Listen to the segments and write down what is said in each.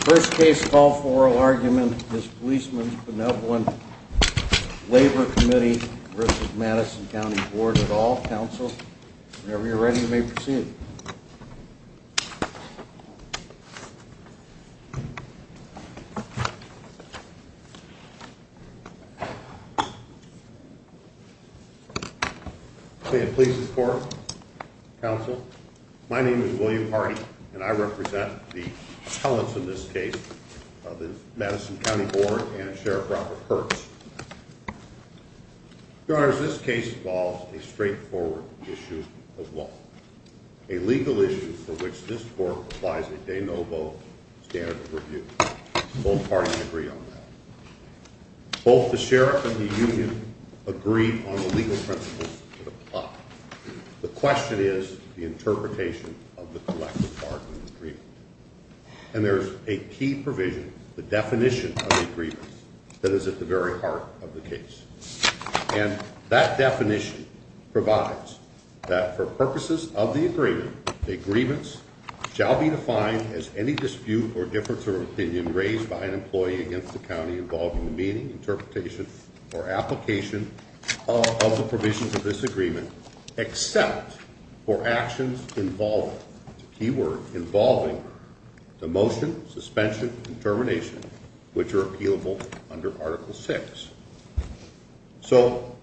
First case call for oral argument is Policemen's Benevolent Labor Committee v. Madison Co. Bd. at all. Counsel, whenever you're ready, you may proceed. May it please the court. Counsel, my name is William Hardy, and I represent the appellants in this case, the Madison County Board and Sheriff Robert Hertz. Your Honor, this case involves a straightforward issue of law, a legal issue for which this court applies a de novo standard of review. Both parties agree on that. Both the sheriff and the union agree on the legal principles that apply. The question is the interpretation of the collective bargaining agreement. And there's a key provision, the definition of the agreement, that is at the very heart of the case. And that definition provides that for purposes of the agreement, the agreements shall be defined as any dispute or difference of opinion raised by an employee against the county involving the meaning, interpretation, or application of the provisions of this agreement, except for actions involving the motion, suspension, and termination, which are appealable under Article VI. So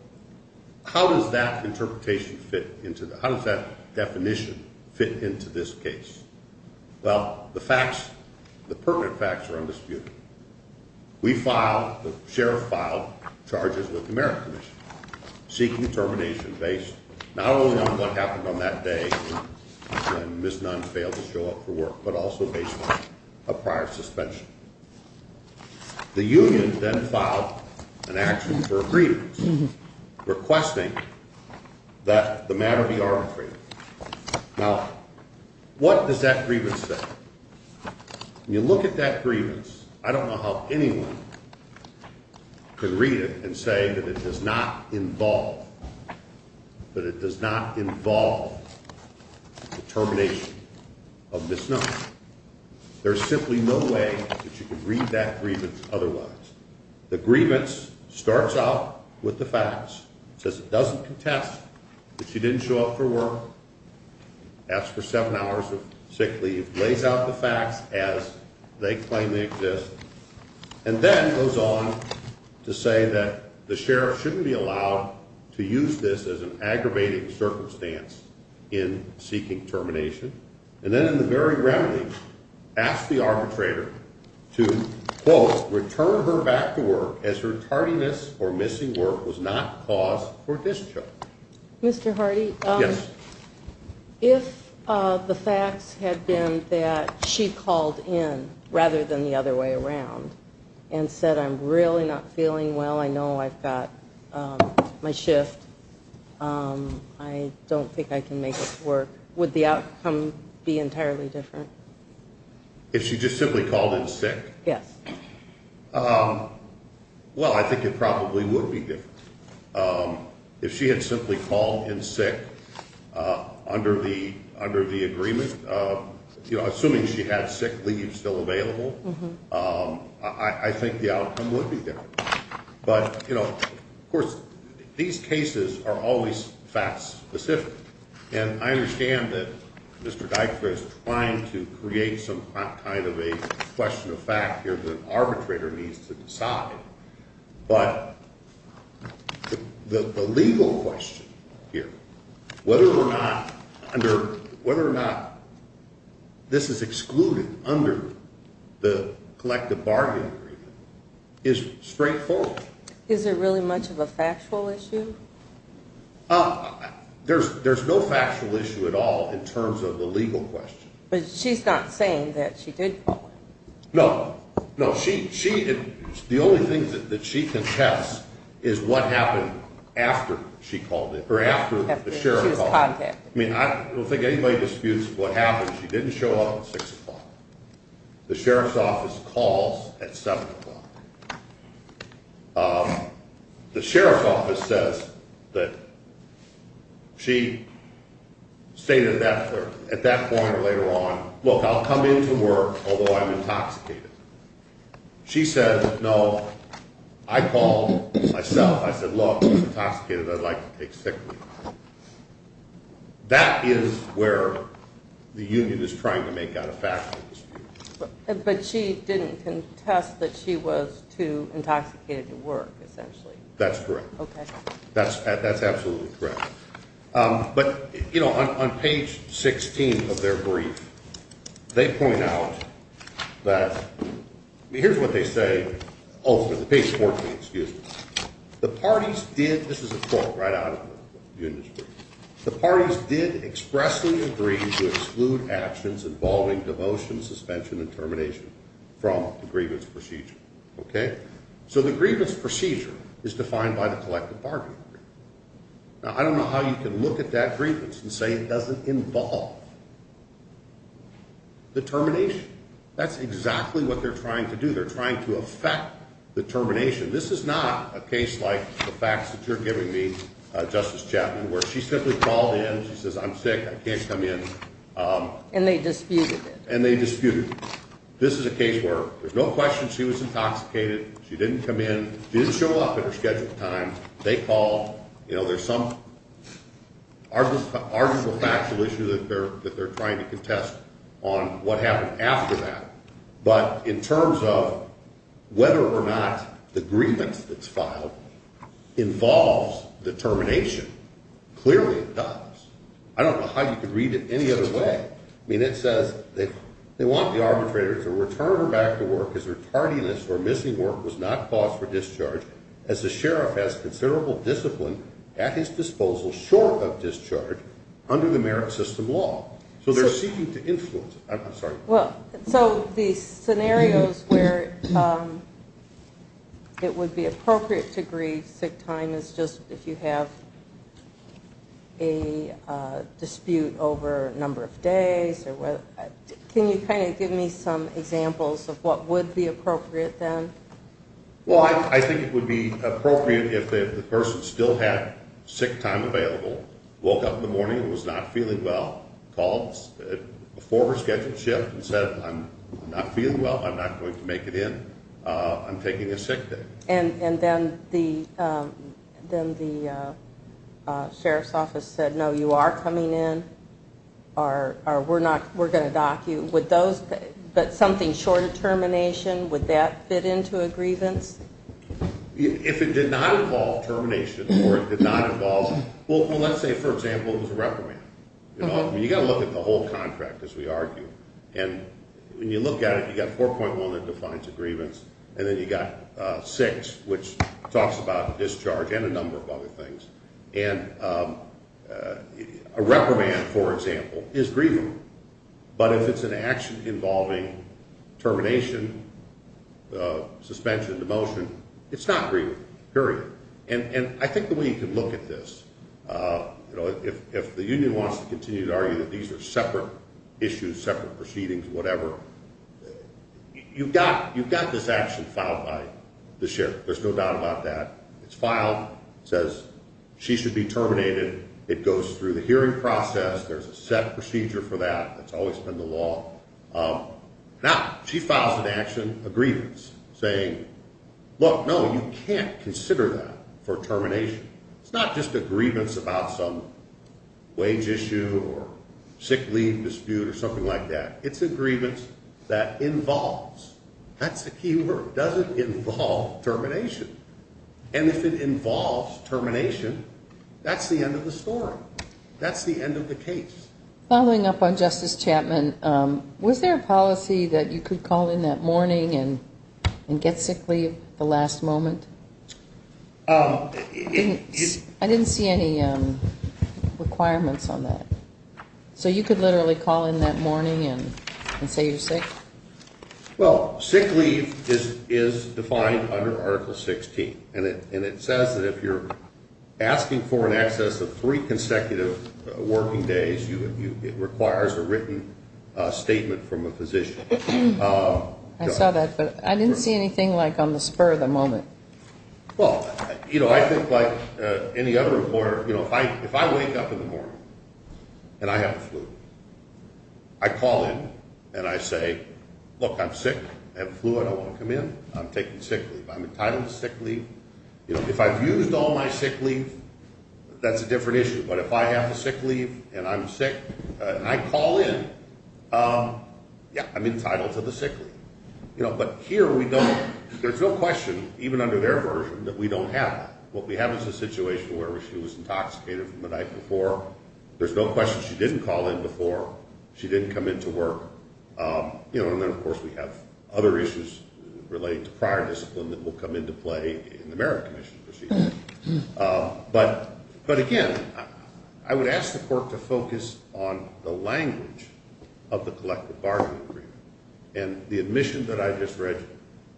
how does that definition fit into this case? Well, the facts, the pertinent facts are undisputed. We filed, the sheriff filed charges with the Merritt Commission seeking termination based not only on what happened on that day when Ms. Nunn failed to show up for work, but also based on a prior suspension. The union then filed an action for a grievance requesting that the matter be arbitrated. Now, what does that grievance say? When you look at that grievance, I don't know how anyone could read it and say that it does not involve, that it does not involve the termination of Ms. Nunn. There's simply no way that you can read that grievance otherwise. The grievance starts out with the facts. It says it doesn't contest that she didn't show up for work, asked for seven hours of sick leave, lays out the facts as they claim they exist, and then goes on to say that the sheriff shouldn't be allowed to use this as an aggravating circumstance in seeking termination. And then, in the very remedy, asks the arbitrator to, quote, return her back to work as her tardiness or missing work was not cause for discharge. Mr. Hardy? Yes. If the facts had been that she called in rather than the other way around and said, I'm really not feeling well, I know I've got my shift, I don't think I can make it to work, would the outcome be entirely different? If she just simply called in sick? Yes. Well, I think it probably would be different. If she had simply called in sick under the agreement, assuming she had sick leave still available, I think the outcome would be different. But, you know, of course, these cases are always fact-specific. And I understand that Mr. Dykstra is trying to create some kind of a question of fact here that an arbitrator needs to decide. But the legal question here, whether or not this is excluded under the collective bargaining agreement, is straightforward. Is there really much of a factual issue? There's no factual issue at all in terms of the legal question. But she's not saying that she did call in. No. No, the only thing that she contests is what happened after she called in, or after the sheriff called in. I don't think anybody disputes what happened. She didn't show up at 6 o'clock. The sheriff's office calls at 7 o'clock. The sheriff's office says that she stated at that point or later on, look, I'll come into work, although I'm intoxicated. She said, no, I called myself. I said, look, I'm intoxicated. I'd like to take sick leave. That is where the union is trying to make out a factual dispute. But she didn't contest that she was too intoxicated to work, essentially. That's correct. OK. That's absolutely correct. But on page 16 of their brief, they point out that, here's what they say, ultimately, page 14, excuse me. The parties did, this is a quote right out of the industry. The parties did expressly agree to exclude actions involving devotion, suspension, and termination from the grievance procedure. OK? So the grievance procedure is defined by the collective bargaining agreement. Now, I don't know how you can look at that grievance and say it doesn't involve the termination. That's exactly what they're trying to do. They're trying to affect the termination. This is not a case like the facts that you're giving me, Justice Chapman, where she simply called in. She says, I'm sick. I can't come in. And they disputed it. And they disputed it. This is a case where there's no question she was intoxicated. She didn't come in. She didn't show up at her scheduled time. They called. There's some arguable factual issue that they're trying to contest on what happened after that. But in terms of whether or not the grievance that's filed involves the termination, clearly it does. I don't know how you could read it any other way. I mean, it says they want the arbitrators to return her back to work as her tardiness or missing work was not cause for discharge, as the sheriff has considerable discipline at his disposal short of discharge under the merit system law. So they're seeking to influence it. I'm sorry. So the scenarios where it would be appropriate to grieve sick time is just if you have a dispute over a number of days. Can you kind of give me some examples of what would be appropriate then? Well, I think it would be appropriate if the person still had sick time available, woke up in the morning and was not feeling well, called a former scheduled shift and said, I'm not feeling well, I'm not going to make it in, I'm taking a sick day. And then the sheriff's office said, no, you are coming in, we're going to dock you. But something short of termination, would that fit into a grievance? If it did not involve termination or it did not involve, well, let's say, for example, it was a reprimand. You've got to look at the whole contract, as we argue. And when you look at it, you've got 4.1 that defines a grievance, and then you've got 6, which talks about discharge and a number of other things. And a reprimand, for example, is grieving. But if it's an action involving termination, suspension, demotion, it's not grieving, period. And I think the way you can look at this, if the union wants to continue to argue that these are separate issues, separate proceedings, whatever, you've got this action filed by the sheriff, there's no doubt about that. It's filed, says she should be terminated. It goes through the hearing process. There's a set procedure for that. It's always been the law. Now, she files an action, a grievance, saying, look, no, you can't consider that for termination. It's not just a grievance about some wage issue or sick leave dispute or something like that. It's a grievance that involves. That's the key word. Does it involve termination? And if it involves termination, that's the end of the story. That's the end of the case. Following up on Justice Chapman, was there a policy that you could call in that morning and get sick leave at the last moment? I didn't see any requirements on that. So you could literally call in that morning and say you're sick? Well, sick leave is defined under Article 16, and it says that if you're asking for an excess of three consecutive working days, it requires a written statement from a physician. I saw that, but I didn't see anything like on the spur of the moment. Well, you know, I think like any other employer, you know, if I wake up in the morning and I have a flu, I call in and I say, look, I'm sick. I have a flu. I don't want to come in. I'm taking sick leave. I'm entitled to sick leave. If I've used all my sick leave, that's a different issue. But if I have a sick leave and I'm sick and I call in, yeah, I'm entitled to the sick leave. But here we don't – there's no question, even under their version, that we don't have that. What we have is a situation where she was intoxicated from the night before. There's no question she didn't call in before. She didn't come in to work. You know, and then, of course, we have other issues related to prior discipline that will come into play in the Merit Commission. But, again, I would ask the court to focus on the language of the collective bargaining agreement and the admission that I just read you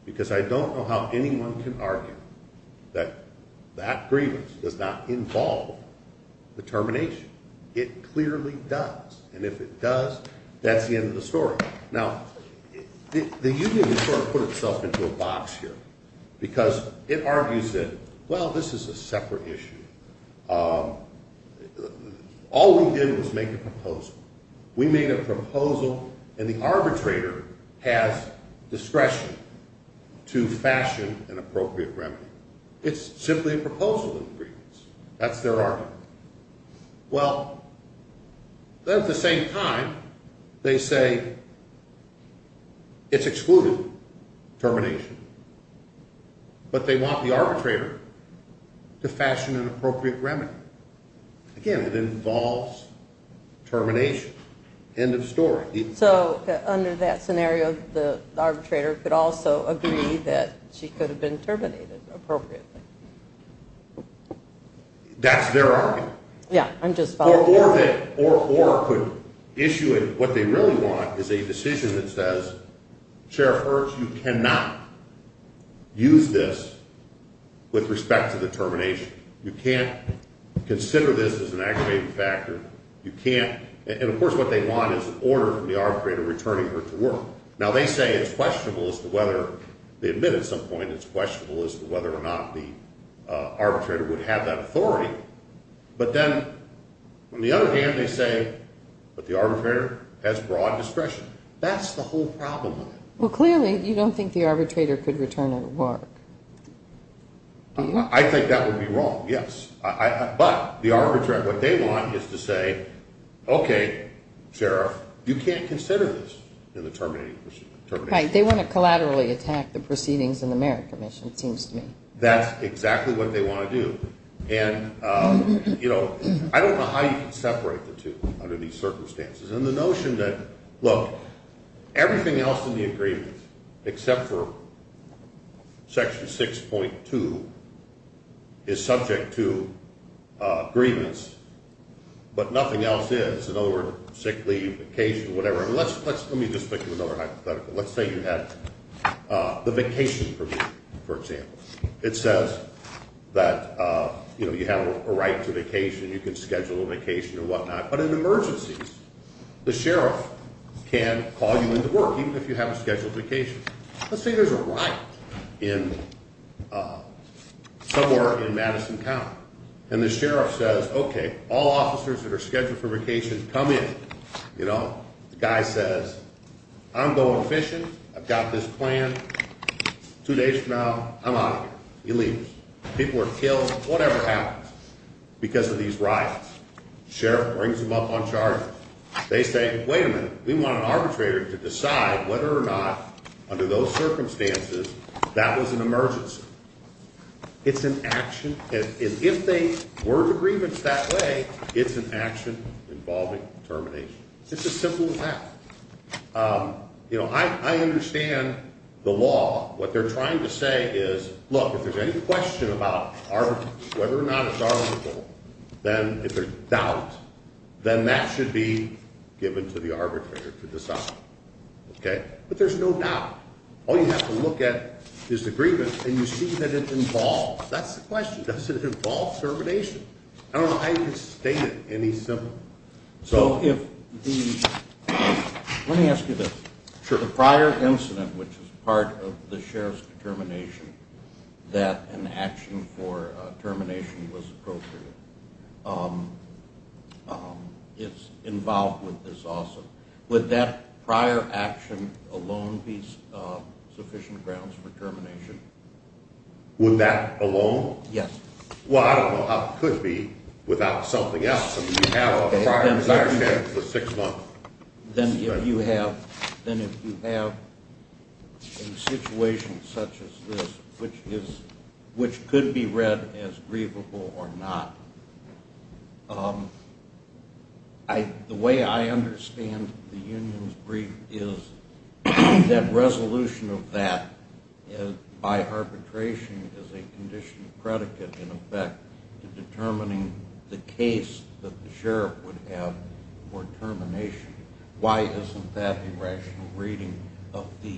because I don't know how anyone can argue that that grievance does not involve the termination. It clearly does. And if it does, that's the end of the story. Now, the union sort of put itself into a box here because it argues that, well, this is a separate issue. All we did was make a proposal. We made a proposal, and the arbitrator has discretion to fashion an appropriate remedy. It's simply a proposal of grievance. That's their argument. Well, then at the same time, they say it's excluded, termination. But they want the arbitrator to fashion an appropriate remedy. Again, it involves termination. End of story. So under that scenario, the arbitrator could also agree that she could have been terminated appropriately. That's their argument. Yeah, I'm just following. Or could issue it. What they really want is a decision that says, Sheriff Hertz, you cannot use this with respect to the termination. You can't consider this as an aggravating factor. You can't. And, of course, what they want is an order from the arbitrator returning her to work. Now, they say it's questionable as to whether they admit at some point it's questionable as to whether or not the arbitrator would have that authority. But then, on the other hand, they say, but the arbitrator has broad discretion. That's the whole problem with it. Well, clearly, you don't think the arbitrator could return her to work. I think that would be wrong, yes. But the arbitrator, what they want is to say, okay, Sheriff, you can't consider this in the termination. Right, they want to collaterally attack the proceedings in the merit commission, it seems to me. That's exactly what they want to do. And, you know, I don't know how you can separate the two under these circumstances. And the notion that, look, everything else in the agreement, except for Section 6.2, is subject to grievance, but nothing else is. In other words, sick leave, vacation, whatever. Let me just think of another hypothetical. Let's say you have the vacation permit, for example. It says that, you know, you have a right to vacation. You can schedule a vacation or whatnot. But in emergencies, the sheriff can call you into work, even if you have a scheduled vacation. Let's say there's a riot somewhere in Madison County. And the sheriff says, okay, all officers that are scheduled for vacation, come in. You know, the guy says, I'm going fishing. I've got this plan. Two days from now, I'm out of here. He leaves. People are killed. Whatever happens because of these riots. Sheriff brings them up on charges. They say, wait a minute. We want an arbitrator to decide whether or not, under those circumstances, that was an emergency. It's an action. And if they were to grievance that way, it's an action involving termination. It's as simple as that. You know, I understand the law. What they're trying to say is, look, if there's any question about whether or not it's arbitrable, then if there's doubt, then that should be given to the arbitrator to decide. Okay? But there's no doubt. All you have to look at is the grievance, and you see that it involves. That's the question. Does it involve termination? I don't know how you can state it any simpler. Let me ask you this. The prior incident, which is part of the sheriff's determination that an action for termination was appropriate, it's involved with this also. Would that prior action alone be sufficient grounds for termination? Would that alone? Yes. Well, I don't know how it could be without something else. If you have a prior incident for six months. Then if you have a situation such as this, which could be read as grievable or not, the way I understand the union's brief is that resolution of that by arbitration is a conditional predicate, in effect, to determining the case that the sheriff would have for termination. Why isn't that the rational reading of the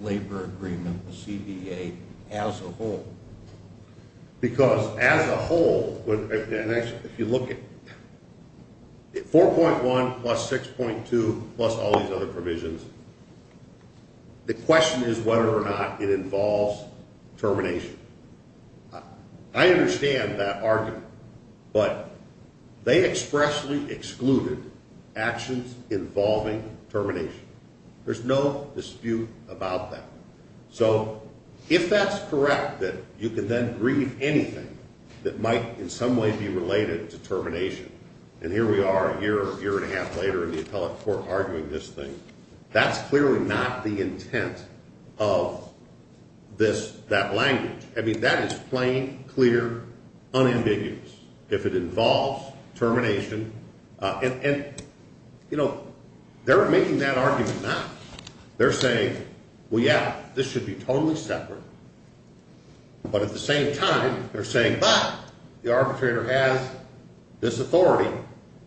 labor agreement, the CBA, as a whole? Because as a whole, if you look at 4.1 plus 6.2 plus all these other provisions, the question is whether or not it involves termination. I understand that argument. But they expressly excluded actions involving termination. There's no dispute about that. So if that's correct, that you could then grieve anything that might in some way be related to termination, and here we are a year or a year and a half later in the appellate court arguing this thing. That's clearly not the intent of this, that language. I mean, that is plain, clear, unambiguous if it involves termination. And, you know, they're making that argument now. They're saying, well, yeah, this should be totally separate. But at the same time, they're saying, but the arbitrator has this authority.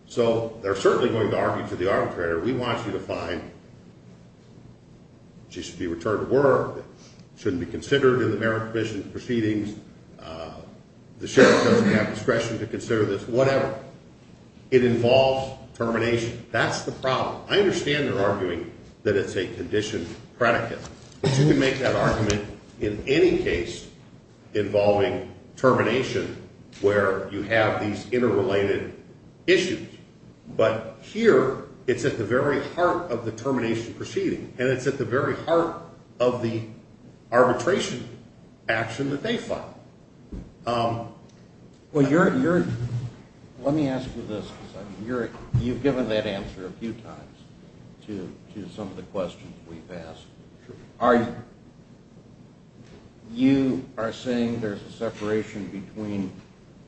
So they're certainly going to argue to the arbitrator, we want you to find she should be returned to work, shouldn't be considered in the merit commission proceedings, the sheriff doesn't have discretion to consider this, whatever. It involves termination. That's the problem. I understand they're arguing that it's a conditioned predicate. You can make that argument in any case involving termination where you have these interrelated issues. But here it's at the very heart of the termination proceeding, and it's at the very heart of the arbitration action that they file. Well, let me ask you this. You've given that answer a few times to some of the questions we've asked. You are saying there's a separation between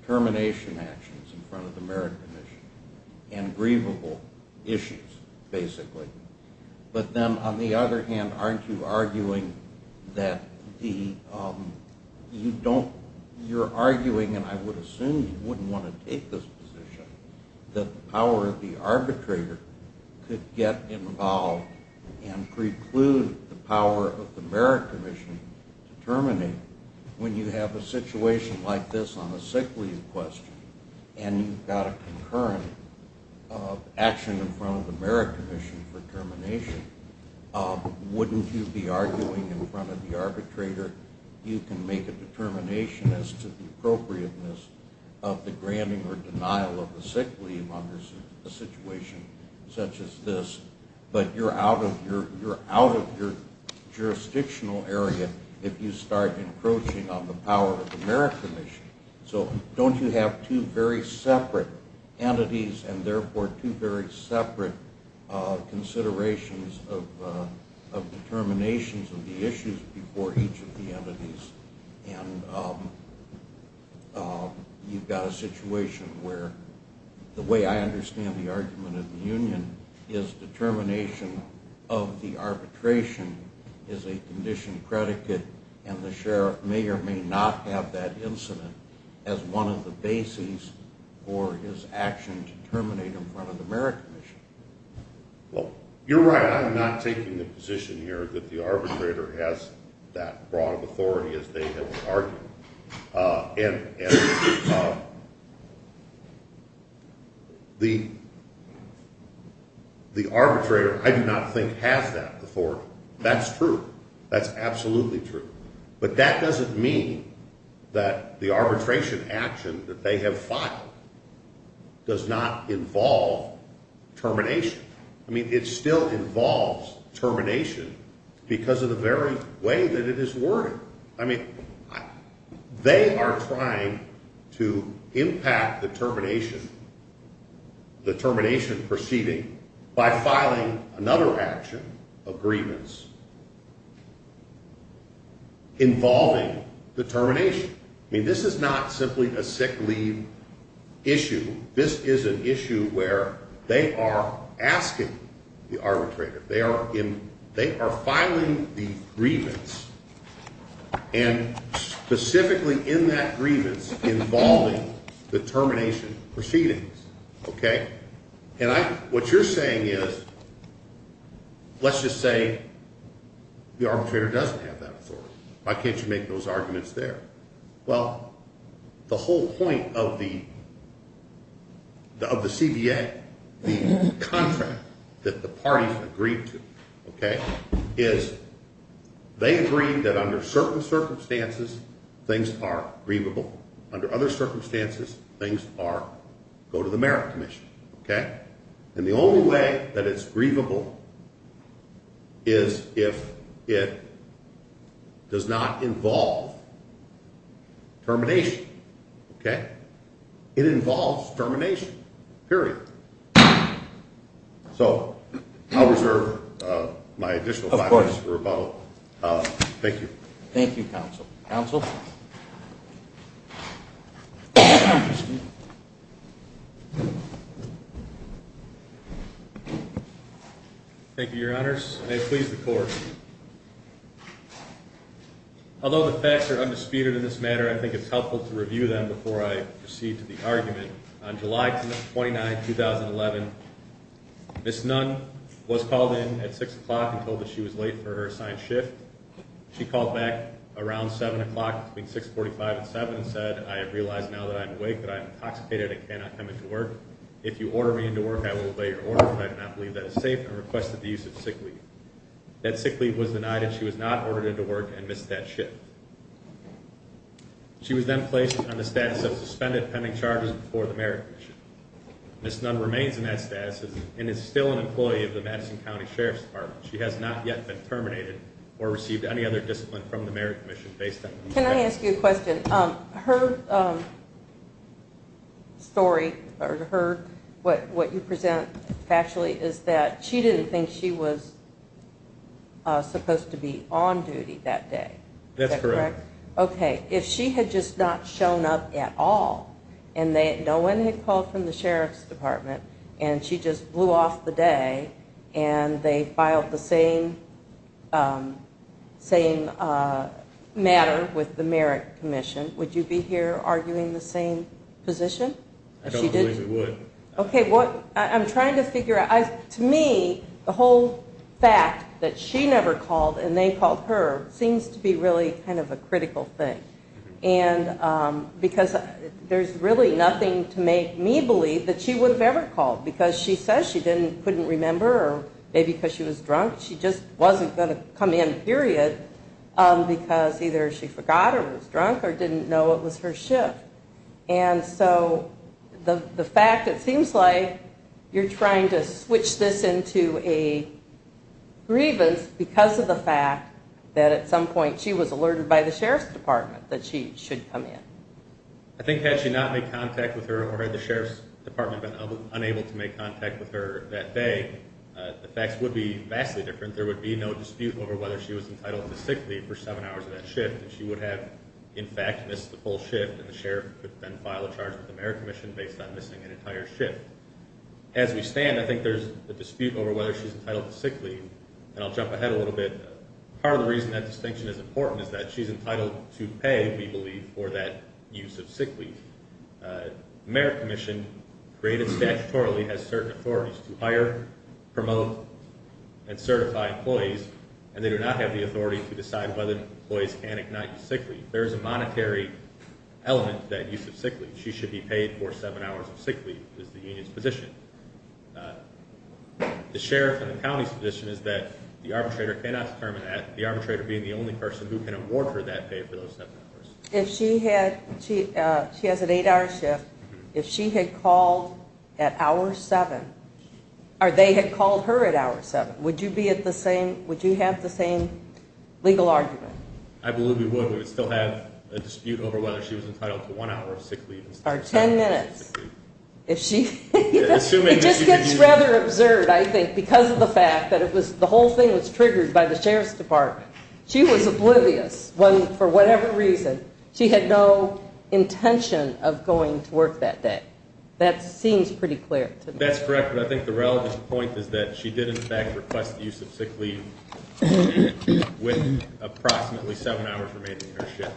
termination actions in front of the merit commission and grievable issues, basically. But then, on the other hand, aren't you arguing that you're arguing, and I would assume you wouldn't want to take this position, that the power of the arbitrator could get involved and preclude the power of the merit commission to terminate when you have a situation like this on a sick leave question, and you've got a concurrent action in front of the merit commission for termination, wouldn't you be arguing in front of the arbitrator, you can make a determination as to the appropriateness of the granting or denial of the sick leave under a situation such as this, but you're out of your jurisdictional area if you start encroaching on the power of the merit commission. So don't you have two very separate entities, and therefore two very separate considerations of determinations of the issues before each of the entities, and you've got a situation where the way I understand the argument of the union is determination of the arbitration is a condition predicate, and the sheriff may or may not have that incident as one of the bases for his action to terminate in front of the merit commission. Well, you're right. I'm not taking the position here that the arbitrator has that broad of authority as they have argued. And the arbitrator I do not think has that authority. That's true. That's absolutely true. But that doesn't mean that the arbitration action that they have filed does not involve termination. I mean, it still involves termination because of the very way that it is worded. I mean, they are trying to impact the termination proceeding by filing another action of grievance involving the termination. I mean, this is not simply a sick leave issue. This is an issue where they are asking the arbitrator. They are filing the grievance and specifically in that grievance involving the termination proceedings. OK, and what you're saying is let's just say the arbitrator doesn't have that authority. Why can't you make those arguments there? Well, the whole point of the CBA contract that the parties agreed to, OK, is they agreed that under certain circumstances things are grievable. Under other circumstances, things are go to the merit commission. And the only way that it's grievable is if it does not involve termination. OK, it involves termination, period. So I'll reserve my additional five minutes for rebuttal. Thank you, counsel. Counsel? Thank you, your honors. May it please the court. Although the facts are undisputed in this matter, I think it's helpful to review them before I proceed to the argument. On July 29, 2011, Ms. Nunn was called in at 6 o'clock and told that she was late for her assigned shift. She called back around 7 o'clock between 6.45 and 7 and said, I have realized now that I am awake that I am intoxicated and cannot come into work. If you order me into work, I will obey your order, but I do not believe that is safe, and requested the use of sick leave. That sick leave was denied and she was not ordered into work and missed that shift. She was then placed on the status of suspended pending charges before the merit commission. Ms. Nunn remains in that status and is still an employee of the Madison County Sheriff's Department. She has not yet been terminated or received any other discipline from the merit commission based on Ms. Nunn. Can I ask you a question? Her story, or what you present factually, is that she didn't think she was supposed to be on duty that day. That's correct. Okay. If she had just not shown up at all, and no one had called from the Sheriff's Department, and she just blew off the day, and they filed the same matter with the merit commission, would you be here arguing the same position? I don't believe we would. Okay. I'm trying to figure out. To me, the whole fact that she never called and they called her seems to be really kind of a critical thing, because there's really nothing to make me believe that she would have ever called, because she says she couldn't remember or maybe because she was drunk. She just wasn't going to come in, period, because either she forgot or was drunk or didn't know it was her shift. And so the fact, it seems like you're trying to switch this into a grievance because of the fact that at some point she was alerted by the Sheriff's Department that she should come in. I think had she not made contact with her or had the Sheriff's Department been unable to make contact with her that day, the facts would be vastly different. There would be no dispute over whether she was entitled to sick leave for seven hours of that shift, and she would have, in fact, missed the full shift, and the Sheriff could then file a charge with the merit commission based on missing an entire shift. As we stand, I think there's a dispute over whether she's entitled to sick leave, and I'll jump ahead a little bit. Part of the reason that distinction is important is that she's entitled to pay, we believe, for that use of sick leave. The merit commission, created statutorily, has certain authorities to hire, promote, and certify employees, and they do not have the authority to decide whether employees can or cannot use sick leave. There is a monetary element to that use of sick leave. She should be paid for seven hours of sick leave, is the union's position. The Sheriff and the county's position is that the arbitrator cannot determine that, the arbitrator being the only person who can award her that pay for those seven hours. If she has an eight-hour shift, if she had called at hour seven, or they had called her at hour seven, would you have the same legal argument? I believe we would. We would still have a dispute over whether she was entitled to one hour of sick leave. Or ten minutes. It just gets rather absurd, I think, because of the fact that the whole thing was triggered by the Sheriff's Department. She was oblivious when, for whatever reason, she had no intention of going to work that day. That seems pretty clear to me. That's correct, but I think the relevant point is that she did, in fact, request the use of sick leave with approximately seven hours remaining in her shift.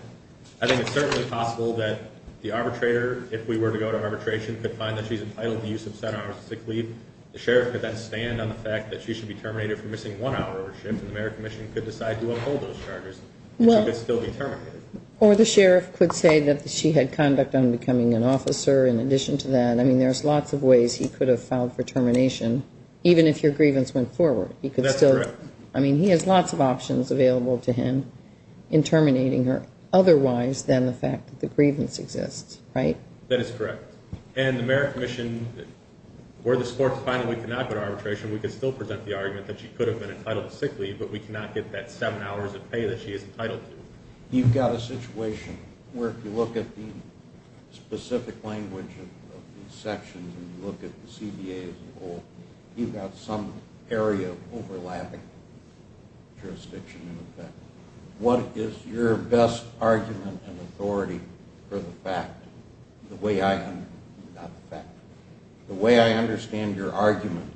I think it's certainly possible that the arbitrator, if we were to go to arbitration, could find that she's entitled to the use of seven hours of sick leave. The Sheriff could then stand on the fact that she should be terminated for missing one hour of her shift, and the Mayor Commission could decide to uphold those charges. She could still be terminated. Or the Sheriff could say that she had conduct on becoming an officer in addition to that. I mean, there's lots of ways he could have filed for termination, even if your grievance went forward. That's correct. I mean, he has lots of options available to him in terminating her, otherwise than the fact that the grievance exists, right? That is correct. And the Mayor Commission, where the sports finally could not go to arbitration, we could still present the argument that she could have been entitled to sick leave, but we cannot get that seven hours of pay that she is entitled to. You've got a situation where, if you look at the specific language of these sections and you look at the CBA as a whole, you've got some area overlapping jurisdiction in effect. What is your best argument and authority for the fact, the way I understand your argument,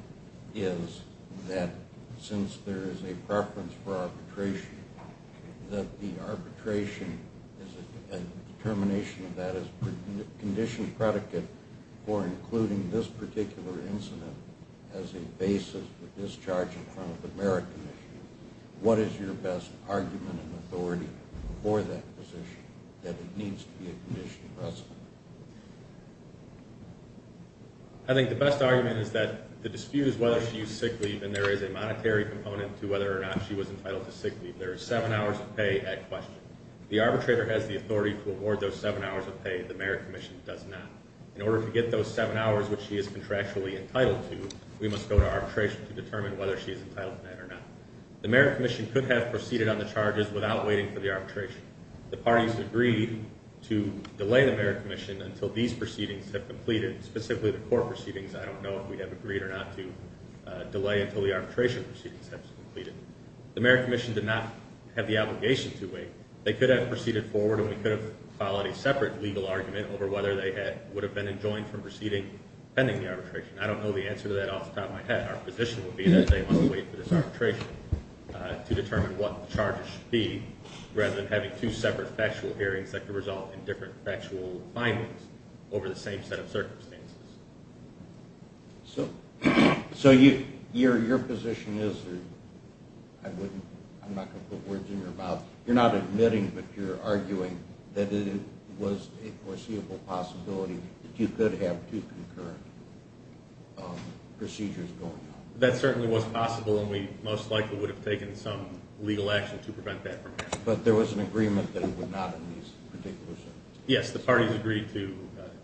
is that since there is a preference for arbitration, that the arbitration and termination of that is a conditioned predicate for including this particular incident as a basis for discharge in front of the Mayor Commission. What is your best argument and authority for that position, that it needs to be a conditioned precedent? I think the best argument is that the dispute is whether she used sick leave, and there is a monetary component to whether or not she was entitled to sick leave. There is seven hours of pay at question. The arbitrator has the authority to award those seven hours of pay. The Mayor Commission does not. In order to get those seven hours, which she is contractually entitled to, we must go to arbitration to determine whether she is entitled to that or not. The Mayor Commission could have proceeded on the charges without waiting for the arbitration. The parties agreed to delay the Mayor Commission until these proceedings have completed, specifically the court proceedings. I don't know if we would have agreed or not to delay until the arbitration proceedings have completed. The Mayor Commission did not have the obligation to wait. They could have proceeded forward, and we could have filed a separate legal argument over whether they would have been enjoined from proceeding pending the arbitration. I don't know the answer to that off the top of my head. Our position would be that they must wait for this arbitration to determine what the charges should be, rather than having two separate factual hearings that could result in different factual findings over the same set of circumstances. So your position is that, I'm not going to put words in your mouth, you're not admitting but you're arguing that it was a foreseeable possibility that you could have two concurrent procedures going on. That certainly was possible, and we most likely would have taken some legal action to prevent that from happening. But there was an agreement that it would not in these particular circumstances? Yes, the parties agreed to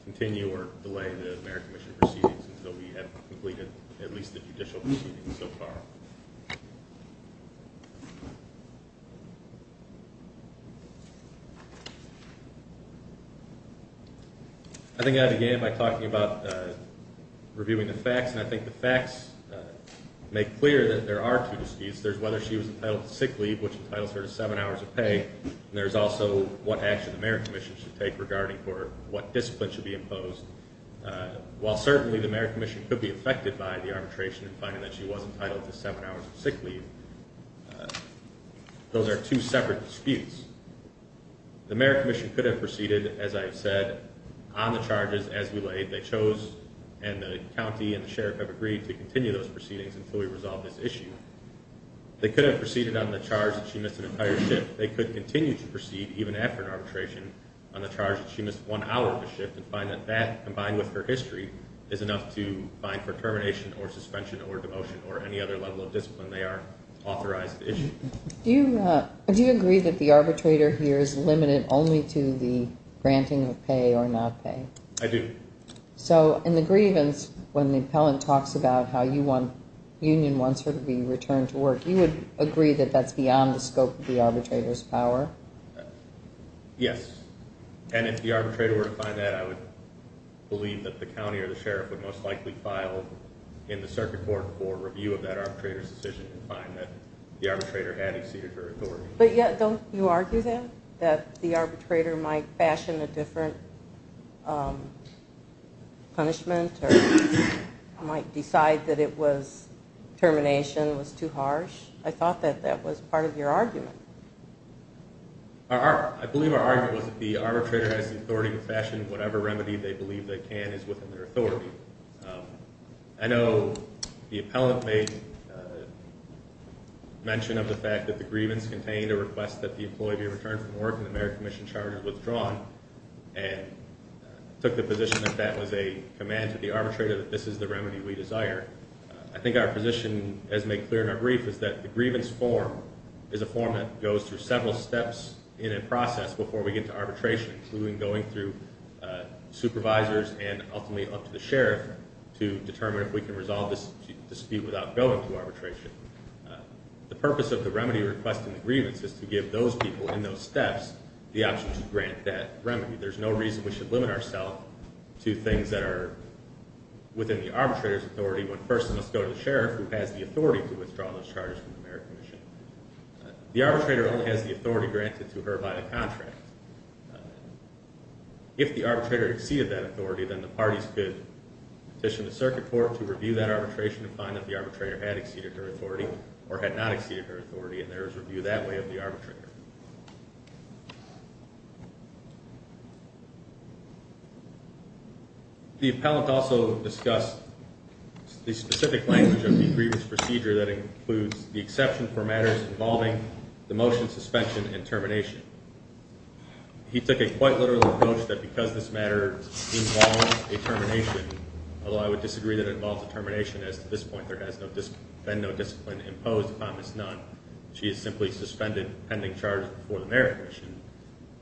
continue or delay the Mayor Commission proceedings until we have completed at least the judicial proceedings so far. I think I began by talking about reviewing the facts, and I think the facts make clear that there are two disputes. There's whether she was entitled to sick leave, which entitles her to seven hours of pay, and there's also what action the Mayor Commission should take regarding what discipline should be imposed. While certainly the Mayor Commission could be affected by the arbitration and finding that she was entitled to seven hours of sick leave, those are two separate disputes. The Mayor Commission could have proceeded, as I have said, on the charges as we laid. They chose, and the county and the sheriff have agreed to continue those proceedings until we resolve this issue. They could have proceeded on the charge that she missed an entire shift. They could continue to proceed, even after an arbitration, on the charge that she missed one hour of a shift and find that that, combined with her history, is enough to find for termination or suspension or demotion or any other level of discipline they are authorized to issue. Do you agree that the arbitrator here is limited only to the granting of pay or not pay? I do. So in the grievance, when the appellant talks about how Union wants her to be returned to work, you would agree that that's beyond the scope of the arbitrator's power? Yes, and if the arbitrator were to find that, I would believe that the county or the sheriff would most likely file in the circuit court for review of that arbitrator's decision and find that the arbitrator had exceeded her authority. But yet, don't you argue, then, that the arbitrator might fashion a different punishment or might decide that termination was too harsh? I thought that that was part of your argument. I believe our argument was that the arbitrator has the authority to fashion whatever remedy they believe they can is within their authority. I know the appellant made mention of the fact that the grievance contained a request that the employee be returned from work and the merit commission charge was withdrawn and took the position that that was a command to the arbitrator that this is the remedy we desire. I think our position, as made clear in our brief, is that the grievance form is a form that goes through several steps in a process before we get to arbitration, including going through supervisors and ultimately up to the sheriff to determine if we can resolve this dispute without going to arbitration. The purpose of the remedy request in the grievance is to give those people in those steps the option to grant that remedy. There's no reason we should limit ourselves to things that are within the arbitrator's authority when first it must go to the sheriff who has the authority to withdraw those charges from the merit commission. The arbitrator only has the authority granted to her by the contract. If the arbitrator exceeded that authority, then the parties could petition the circuit court to review that arbitration and find that the arbitrator had exceeded her authority or had not exceeded her authority, and there is review that way of the arbitrator. The appellant also discussed the specific language of the grievance procedure that includes the exception for matters involving the motion suspension and termination. He took a quite literal approach that because this matter involves a termination, although I would disagree that it involves a termination as to this point there has been no discipline imposed upon this none, she is simply suspended pending charges before the merit commission,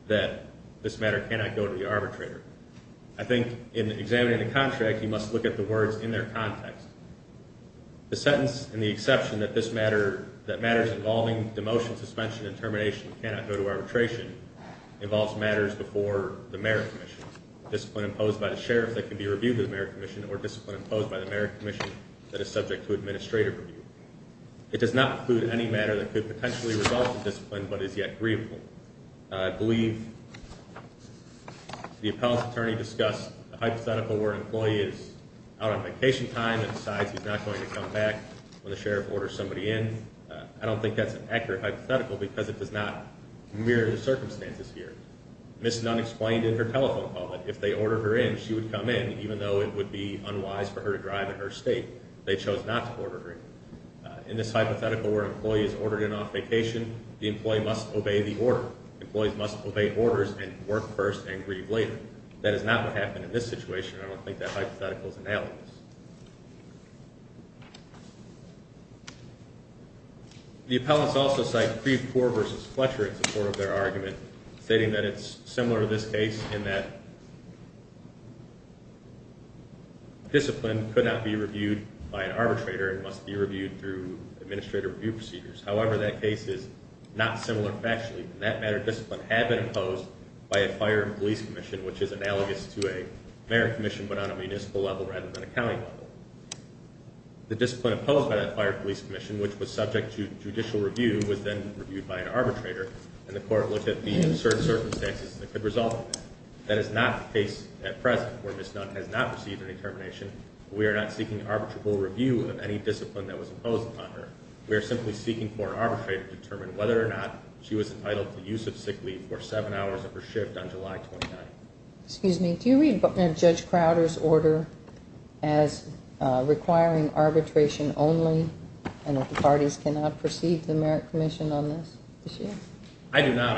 that this matter cannot go to the arbitrator. I think in examining the contract, you must look at the words in their context. The sentence and the exception that matters involving the motion suspension and termination cannot go to arbitration involves matters before the merit commission. Discipline imposed by the sheriff that can be reviewed by the merit commission or discipline imposed by the merit commission that is subject to administrative review. It does not include any matter that could potentially result in discipline but is yet grievable. I believe the appellant's attorney discussed the hypothetical where an employee is out on vacation time and decides he's not going to come back when the sheriff orders somebody in. I don't think that's an accurate hypothetical because it does not mirror the circumstances here. Ms. Nunn explained in her telephone call that if they order her in, she would come in even though it would be unwise for her to drive in her state. They chose not to order her in. In this hypothetical where an employee is ordered in off vacation, the employee must obey the order. Employees must obey orders and work first and grieve later. That is not what happened in this situation and I don't think that hypothetical is analogous. The appellants also cite Creve Coeur v. Fletcher in support of their argument, stating that it's similar to this case in that discipline could not be reviewed by an arbitrator and must be reviewed through administrative review procedures. However, that case is not similar factually, and that matter of discipline had been imposed by a fire and police commission, which is analogous to a merit commission but on a municipal level rather than a county level. The discipline imposed by that fire and police commission, which was subject to judicial review, was then reviewed by an arbitrator, and the court looked at the certain circumstances that could result in that. That is not the case at present where Ms. Nunn has not received any termination. We are not seeking arbitrable review of any discipline that was imposed upon her. We are simply seeking for an arbitrator to determine whether or not she was entitled to use of sick leave for seven hours of her shift on July 29th. Excuse me, do you read Judge Crowder's order as requiring arbitration only and that the parties cannot proceed to the merit commission on this issue? I do not.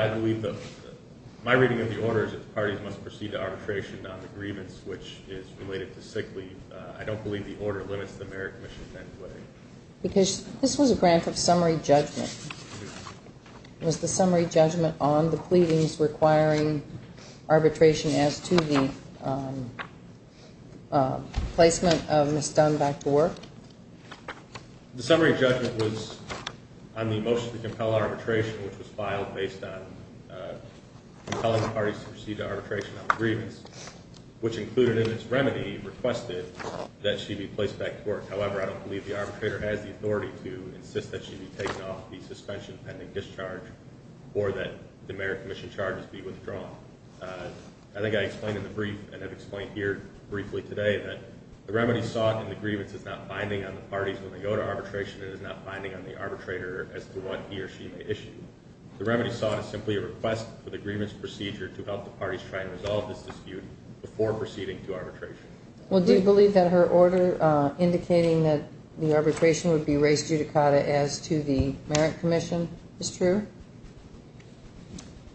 My reading of the order is that the parties must proceed to arbitration on the grievance, which is related to sick leave. I don't believe the order limits the merit commission in any way. Because this was a grant of summary judgment. Was the summary judgment on the pleadings requiring arbitration as to the placement of Ms. Nunn back to work? The summary judgment was on the motion to compel arbitration, which was filed based on compelling the parties to proceed to arbitration on the grievance, which included in its remedy requested that she be placed back to work. However, I don't believe the arbitrator has the authority to insist that she be taken off the suspension pending discharge or that the merit commission charges be withdrawn. I think I explained in the brief and have explained here briefly today that the remedy sought in the grievance is not binding on the parties when they go to arbitration and is not binding on the arbitrator as to what he or she may issue. The remedy sought is simply a request for the grievance procedure to help the parties try and resolve this dispute before proceeding to arbitration. Well, do you believe that her order indicating that the arbitration would be raised judicata as to the merit commission is true?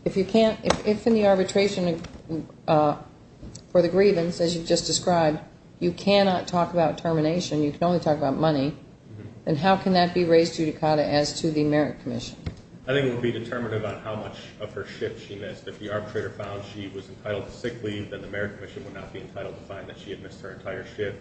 If in the arbitration for the grievance, as you just described, you cannot talk about termination, you can only talk about money, then how can that be raised judicata as to the merit commission? I think it would be determinative on how much of her shift she missed. If the arbitrator found she was entitled to sick leave, then the merit commission would not be entitled to find that she had missed her entire shift.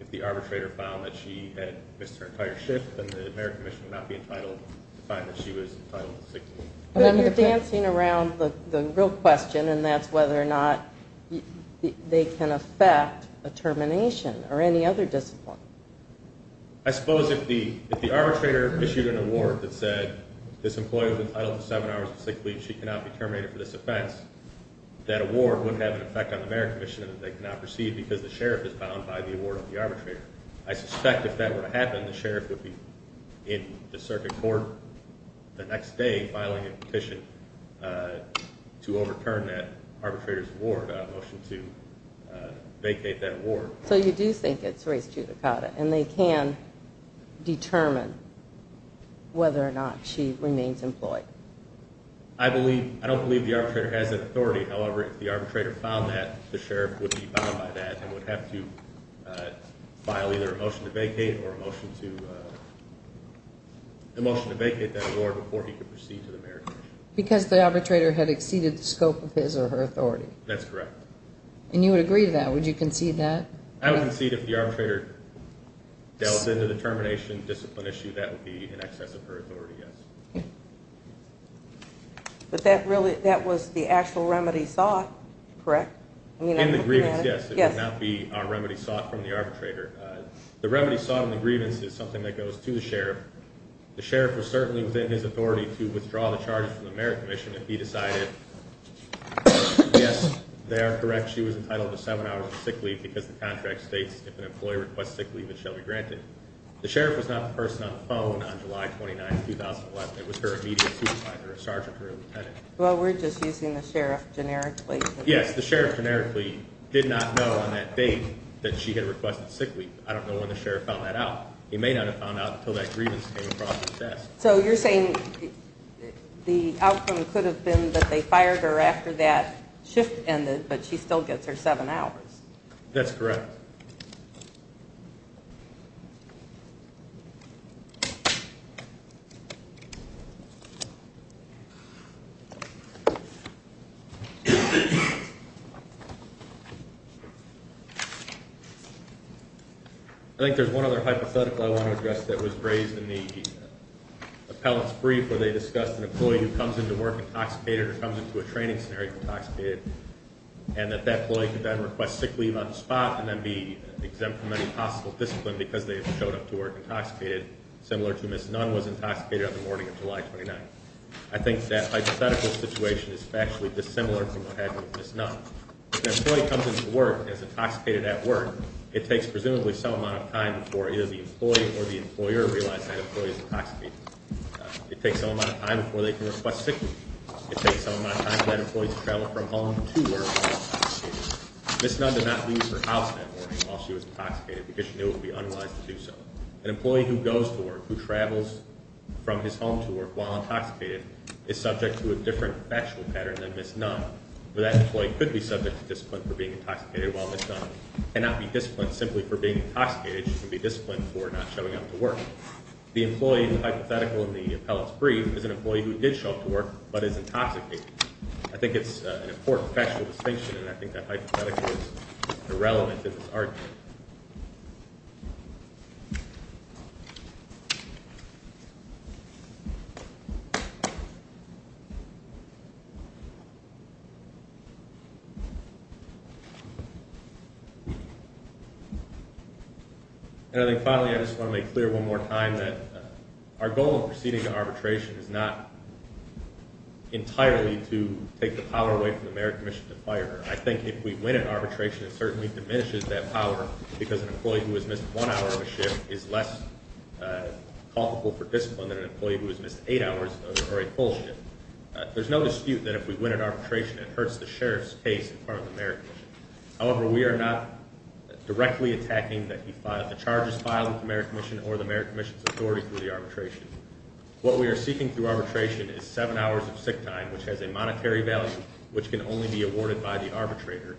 If the arbitrator found that she had missed her entire shift, then the merit commission would not be entitled to find that she was entitled to sick leave. Then you're dancing around the real question, and that's whether or not they can affect a termination or any other discipline. I suppose if the arbitrator issued an award that said this employee was entitled to seven hours of sick leave, she cannot be terminated for this offense, that award would have an effect on the merit commission and that they cannot proceed because the sheriff is bound by the award of the arbitrator. I suspect if that were to happen, the sheriff would be in the circuit court the next day filing a petition to overturn that arbitrator's award, a motion to vacate that award. So you do think it's raised judicata, and they can determine whether or not she remains employed? I don't believe the arbitrator has that authority. However, if the arbitrator found that, the sheriff would be bound by that and would have to file either a motion to vacate or a motion to vacate that award before he could proceed to the merit commission. Because the arbitrator had exceeded the scope of his or her authority? That's correct. And you would agree to that? Would you concede that? I would concede if the arbitrator delves into the termination discipline issue, that would be in excess of her authority, yes. But that was the actual remedy sought, correct? In the grievance, yes. It would not be a remedy sought from the arbitrator. The remedy sought in the grievance is something that goes to the sheriff. The sheriff was certainly within his authority to withdraw the charges from the merit commission if he decided, Yes, they are correct. She was entitled to seven hours of sick leave because the contract states if an employee requests sick leave, it shall be granted. The sheriff was not the person on the phone on July 29, 2011. It was her immediate supervisor, a sergeant or a lieutenant. Well, we're just using the sheriff generically. Yes, the sheriff generically did not know on that date that she had requested sick leave. I don't know when the sheriff found that out. He may not have found out until that grievance came across his desk. So you're saying the outcome could have been that they fired her after that shift ended, but she still gets her seven hours. That's correct. I think there's one other hypothetical I want to address that was raised in the appellate's brief where they discussed an employee who comes into work intoxicated or comes into a training scenario intoxicated. And that that employee could then request sick leave on the spot and then be exempt from any possible discipline because they showed up to work intoxicated, similar to Ms. Nunn was intoxicated on the morning of July 29. I think that hypothetical situation is factually dissimilar from what happened with Ms. Nunn. If an employee comes into work as intoxicated at work, it takes presumably some amount of time before either the employee or the employer realizes that employee is intoxicated. It takes some amount of time before they can request sick leave. It takes some amount of time for that employee to travel from home to work while intoxicated. Ms. Nunn did not leave her house that morning while she was intoxicated because she knew it would be unwise to do so. An employee who goes to work, who travels from his home to work while intoxicated, is subject to a different factual pattern than Ms. Nunn. That employee could be subject to discipline for being intoxicated while Ms. Nunn cannot be disciplined simply for being intoxicated. She can be disciplined for not showing up to work. The employee in the hypothetical in the appellate's brief is an employee who did show up to work but is intoxicated. I think it's an important factual distinction and I think that hypothetical is irrelevant in this argument. And I think finally I just want to make clear one more time that our goal in proceeding to arbitration is not entirely to take the power away from the Mayoral Commission to fire her. I think if we win at arbitration it certainly diminishes that power because an employee who has missed one hour of a shift is less culpable for discipline than an employee who has missed eight hours or a full shift. There's no dispute that if we win at arbitration it hurts the Sheriff's case in front of the Mayoral Commission. However, we are not directly attacking the charges filed with the Mayoral Commission or the Mayoral Commission's authority through the arbitration. What we are seeking through arbitration is seven hours of sick time which has a monetary value which can only be awarded by the arbitrator.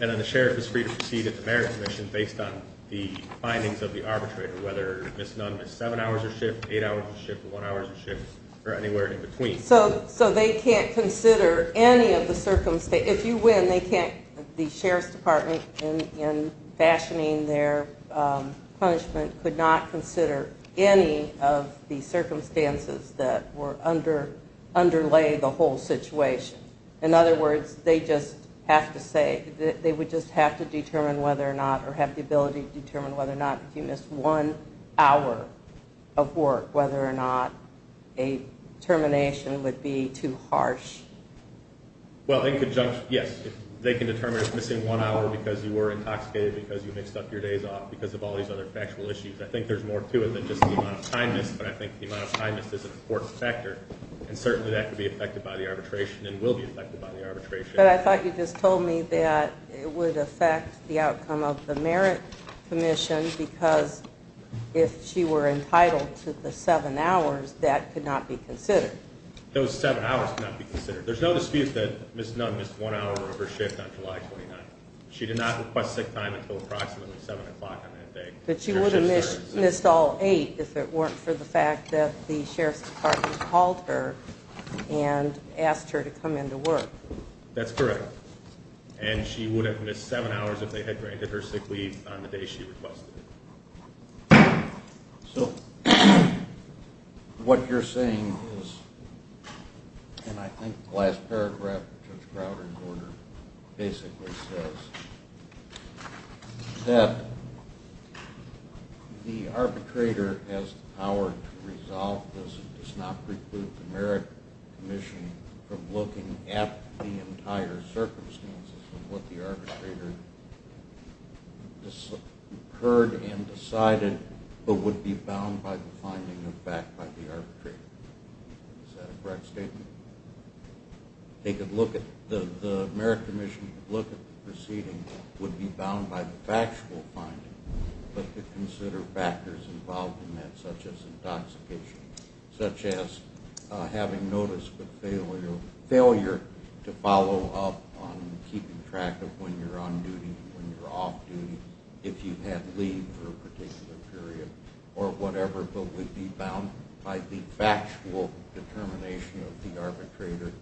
And then the Sheriff is free to proceed at the Mayoral Commission based on the findings of the arbitrator whether Ms. Nunn missed seven hours of shift, eight hours of shift, one hour of shift or anywhere in between. So they can't consider any of the circumstances, if you win they can't, the Sheriff's Department in fashioning their punishment could not consider any of the circumstances that underlay the whole situation. In other words, they just have to say, they would just have to determine whether or not or have the ability to determine whether or not if you missed one hour of work whether or not a termination would be too harsh. Well in conjunction, yes, they can determine if missing one hour because you were intoxicated because you mixed up your days off because of all these other factual issues. I think there's more to it than just the amount of time missed but I think the amount of time missed is an important factor and certainly that could be affected by the arbitration and will be affected by the arbitration. But I thought you just told me that it would affect the outcome of the Merit Commission because if she were entitled to the seven hours that could not be considered. Those seven hours could not be considered. There's no dispute that Ms. Nunn missed one hour of her shift on July 29th. She did not request sick time until approximately 7 o'clock on that day. But she would have missed all eight if it weren't for the fact that the Sheriff's Department called her and asked her to come into work. That's correct. And she would have missed seven hours if they had granted her sick leave on the day she requested it. So what you're saying is, and I think the last paragraph of Judge Crowder's order basically says, that the arbitrator has the power to resolve this and does not preclude the Merit Commission from looking at the entire circumstances of what the arbitrator heard and decided but would be bound by the finding of fact by the arbitrator. Is that a correct statement? They could look at, the Merit Commission could look at the proceedings, would be bound by the factual finding, but could consider factors involved in that such as intoxication, such as having notice of failure to follow up on keeping track of when you're on duty, when you're off duty, if you had leave for a particular period or whatever, but would be bound by the factual determination of the arbitrator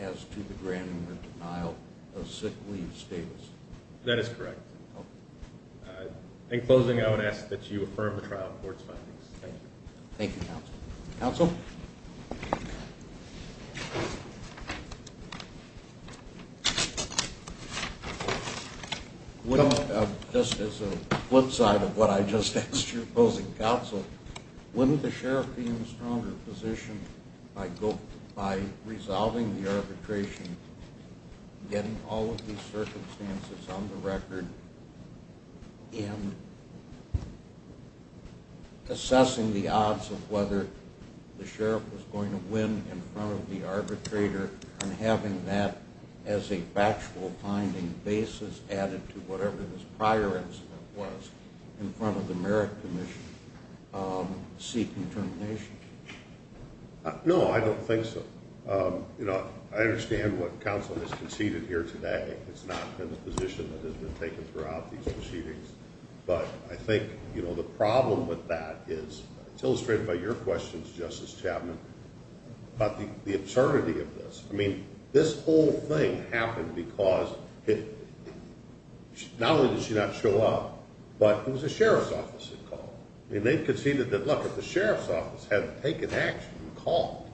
as to the granting or denial of sick leave status. That is correct. In closing, I would ask that you affirm the trial court's findings. Thank you. Thank you, Counsel. Counsel? Just as a flip side of what I just asked you, opposing Counsel, wouldn't the Sheriff be in a stronger position by resolving the arbitration, getting all of these circumstances on the record, and assessing the odds of whether the Sheriff was going to win in front of the arbitrator and having that as a factual finding basis added to whatever this prior incident was in front of the Merit Commission seeking termination? No, I don't think so. You know, I understand what Counsel has conceded here today. It's not been the position that has been taken throughout these proceedings. But I think, you know, the problem with that is, it's illustrated by your questions, Justice Chapman, about the absurdity of this. I mean, this whole thing happened because not only did she not show up, but it was the Sheriff's Office that called. I mean, they've conceded that, look, if the Sheriff's Office hadn't taken action and called,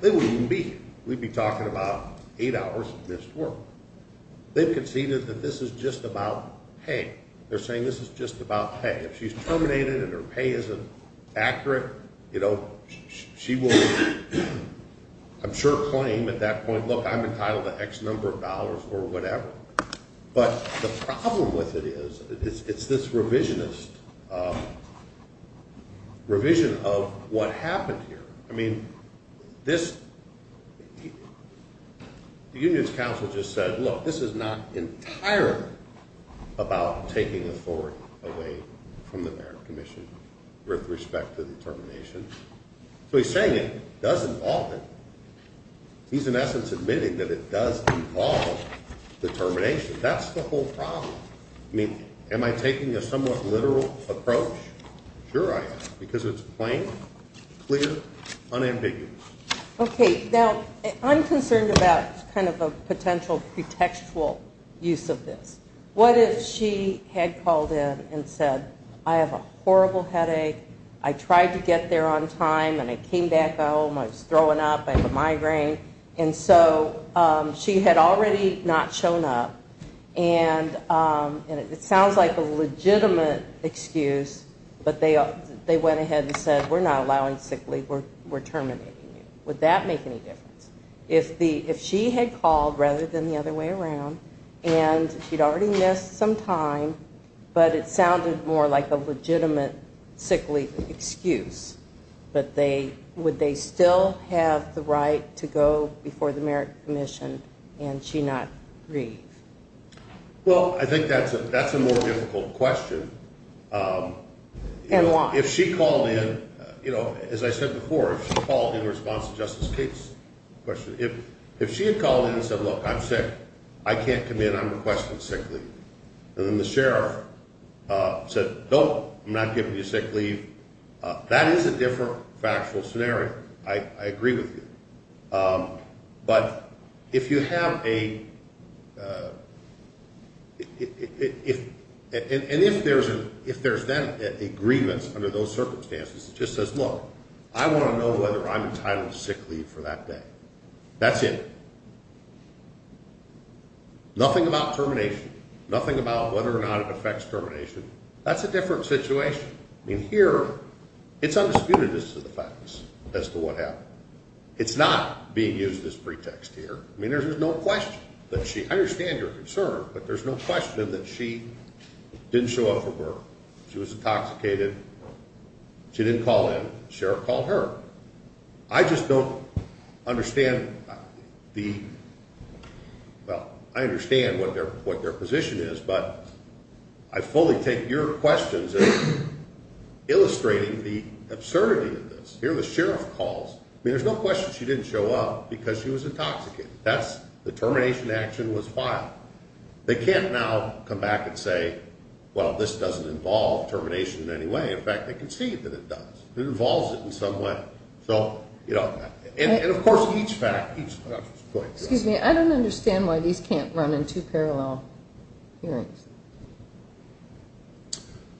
they wouldn't even be here. We'd be talking about eight hours of missed work. They've conceded that this is just about pay. They're saying this is just about pay. If she's terminated and her pay isn't accurate, you know, she will, I'm sure, claim at that point, look, I'm entitled to X number of dollars or whatever. But the problem with it is, it's this revisionist revision of what happened here. I mean, this – the union's counsel just said, look, this is not entirely about taking authority away from the merit commission with respect to the termination. So he's saying it does involve it. He's, in essence, admitting that it does involve the termination. That's the whole problem. I mean, am I taking a somewhat literal approach? Sure I am, because it's plain, clear, unambiguous. Okay. Now, I'm concerned about kind of a potential pretextual use of this. What if she had called in and said, I have a horrible headache, I tried to get there on time, and I came back home, I was throwing up, I have a migraine. And so she had already not shown up. And it sounds like a legitimate excuse, but they went ahead and said, we're not allowing sick leave, we're terminating you. Would that make any difference? If she had called, rather than the other way around, and she'd already missed some time, but it sounded more like a legitimate sick leave excuse, but would they still have the right to go before the merit commission and she not leave? Well, I think that's a more difficult question. And why? If she called in, as I said before, if she called in response to Justice Cates' question, if she had called in and said, look, I'm sick, I can't come in, I'm requesting sick leave, and then the sheriff said, no, I'm not giving you sick leave, that is a different factual scenario. I agree with you. But if you have a – and if there's then an agreement under those circumstances, it just says, look, I want to know whether I'm entitled to sick leave for that day. That's it. Nothing about termination. Nothing about whether or not it affects termination. That's a different situation. I mean, here, it's undisputedness of the facts as to what happened. It's not being used as pretext here. I mean, there's no question that she – I understand your concern, but there's no question that she didn't show up for work. She was intoxicated. She didn't call in. Sheriff called her. I just don't understand the – well, I understand what their position is, but I fully take your questions as illustrating the absurdity of this. Here the sheriff calls. I mean, there's no question she didn't show up because she was intoxicated. That's – the termination action was filed. They can't now come back and say, well, this doesn't involve termination in any way. In fact, they concede that it does. It involves it in some way. So, you know, and, of course, each fact – Excuse me. I don't understand why these can't run in two parallel hearings.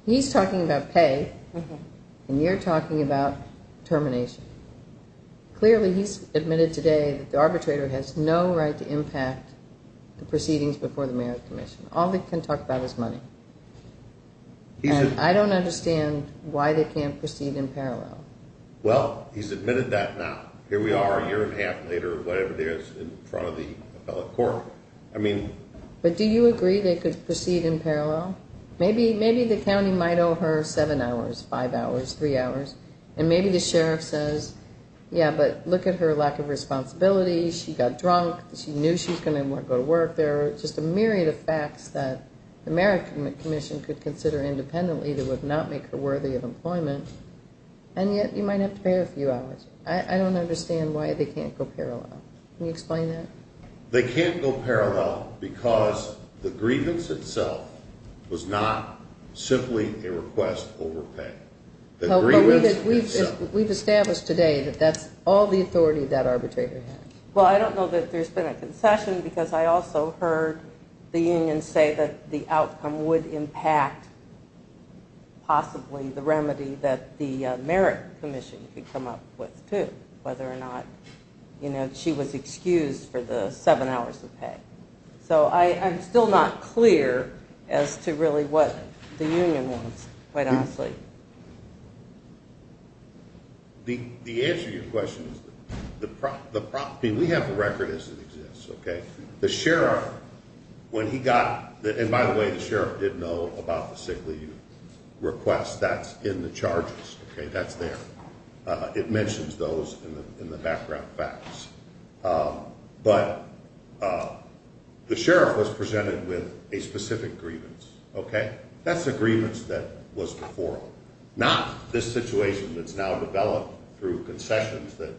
He's talking about pay, and you're talking about termination. Clearly, he's admitted today that the arbitrator has no right to impact the proceedings before the merit commission. All they can talk about is money. And I don't understand why they can't proceed in parallel. Well, he's admitted that now. Here we are a year and a half later, whatever it is, in front of the appellate court. I mean – But do you agree they could proceed in parallel? Maybe the county might owe her seven hours, five hours, three hours. And maybe the sheriff says, yeah, but look at her lack of responsibility. She got drunk. She knew she was going to go to work. There are just a myriad of facts that the merit commission could consider independently that would not make her worthy of employment. And yet you might have to pay her a few hours. I don't understand why they can't go parallel. Can you explain that? They can't go parallel because the grievance itself was not simply a request over pay. The grievance itself. We've established today that that's all the authority that arbitrator has. Well, I don't know that there's been a concession because I also heard the union say that the outcome would impact possibly the remedy that the merit commission could come up with too, whether or not she was excused for the seven hours of pay. So I'm still not clear as to really what the union wants, quite honestly. The answer to your question is the property. We have a record as it exists. Okay. The sheriff, when he got that, and by the way, the sheriff didn't know about the sick leave request. That's in the charges. Okay. That's there. It mentions those in the background facts. But the sheriff was presented with a specific grievance. Okay. That's the grievance that was before, not this situation that's now developed through concessions that,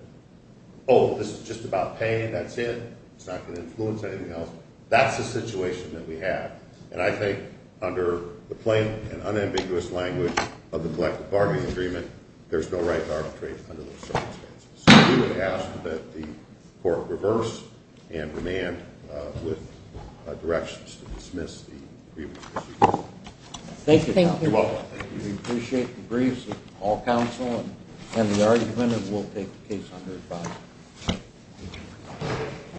oh, this is just about paying. That's it. It's not going to influence anything else. That's the situation that we have. And I think under the plain and unambiguous language of the collective bargaining agreement, there's no right to arbitrate under those circumstances. So we would ask that the court reverse and demand with directions to dismiss the grievance. Thank you. You're welcome. Thank you. We appreciate the briefs of all counsel and the argument, and we'll take the case under review.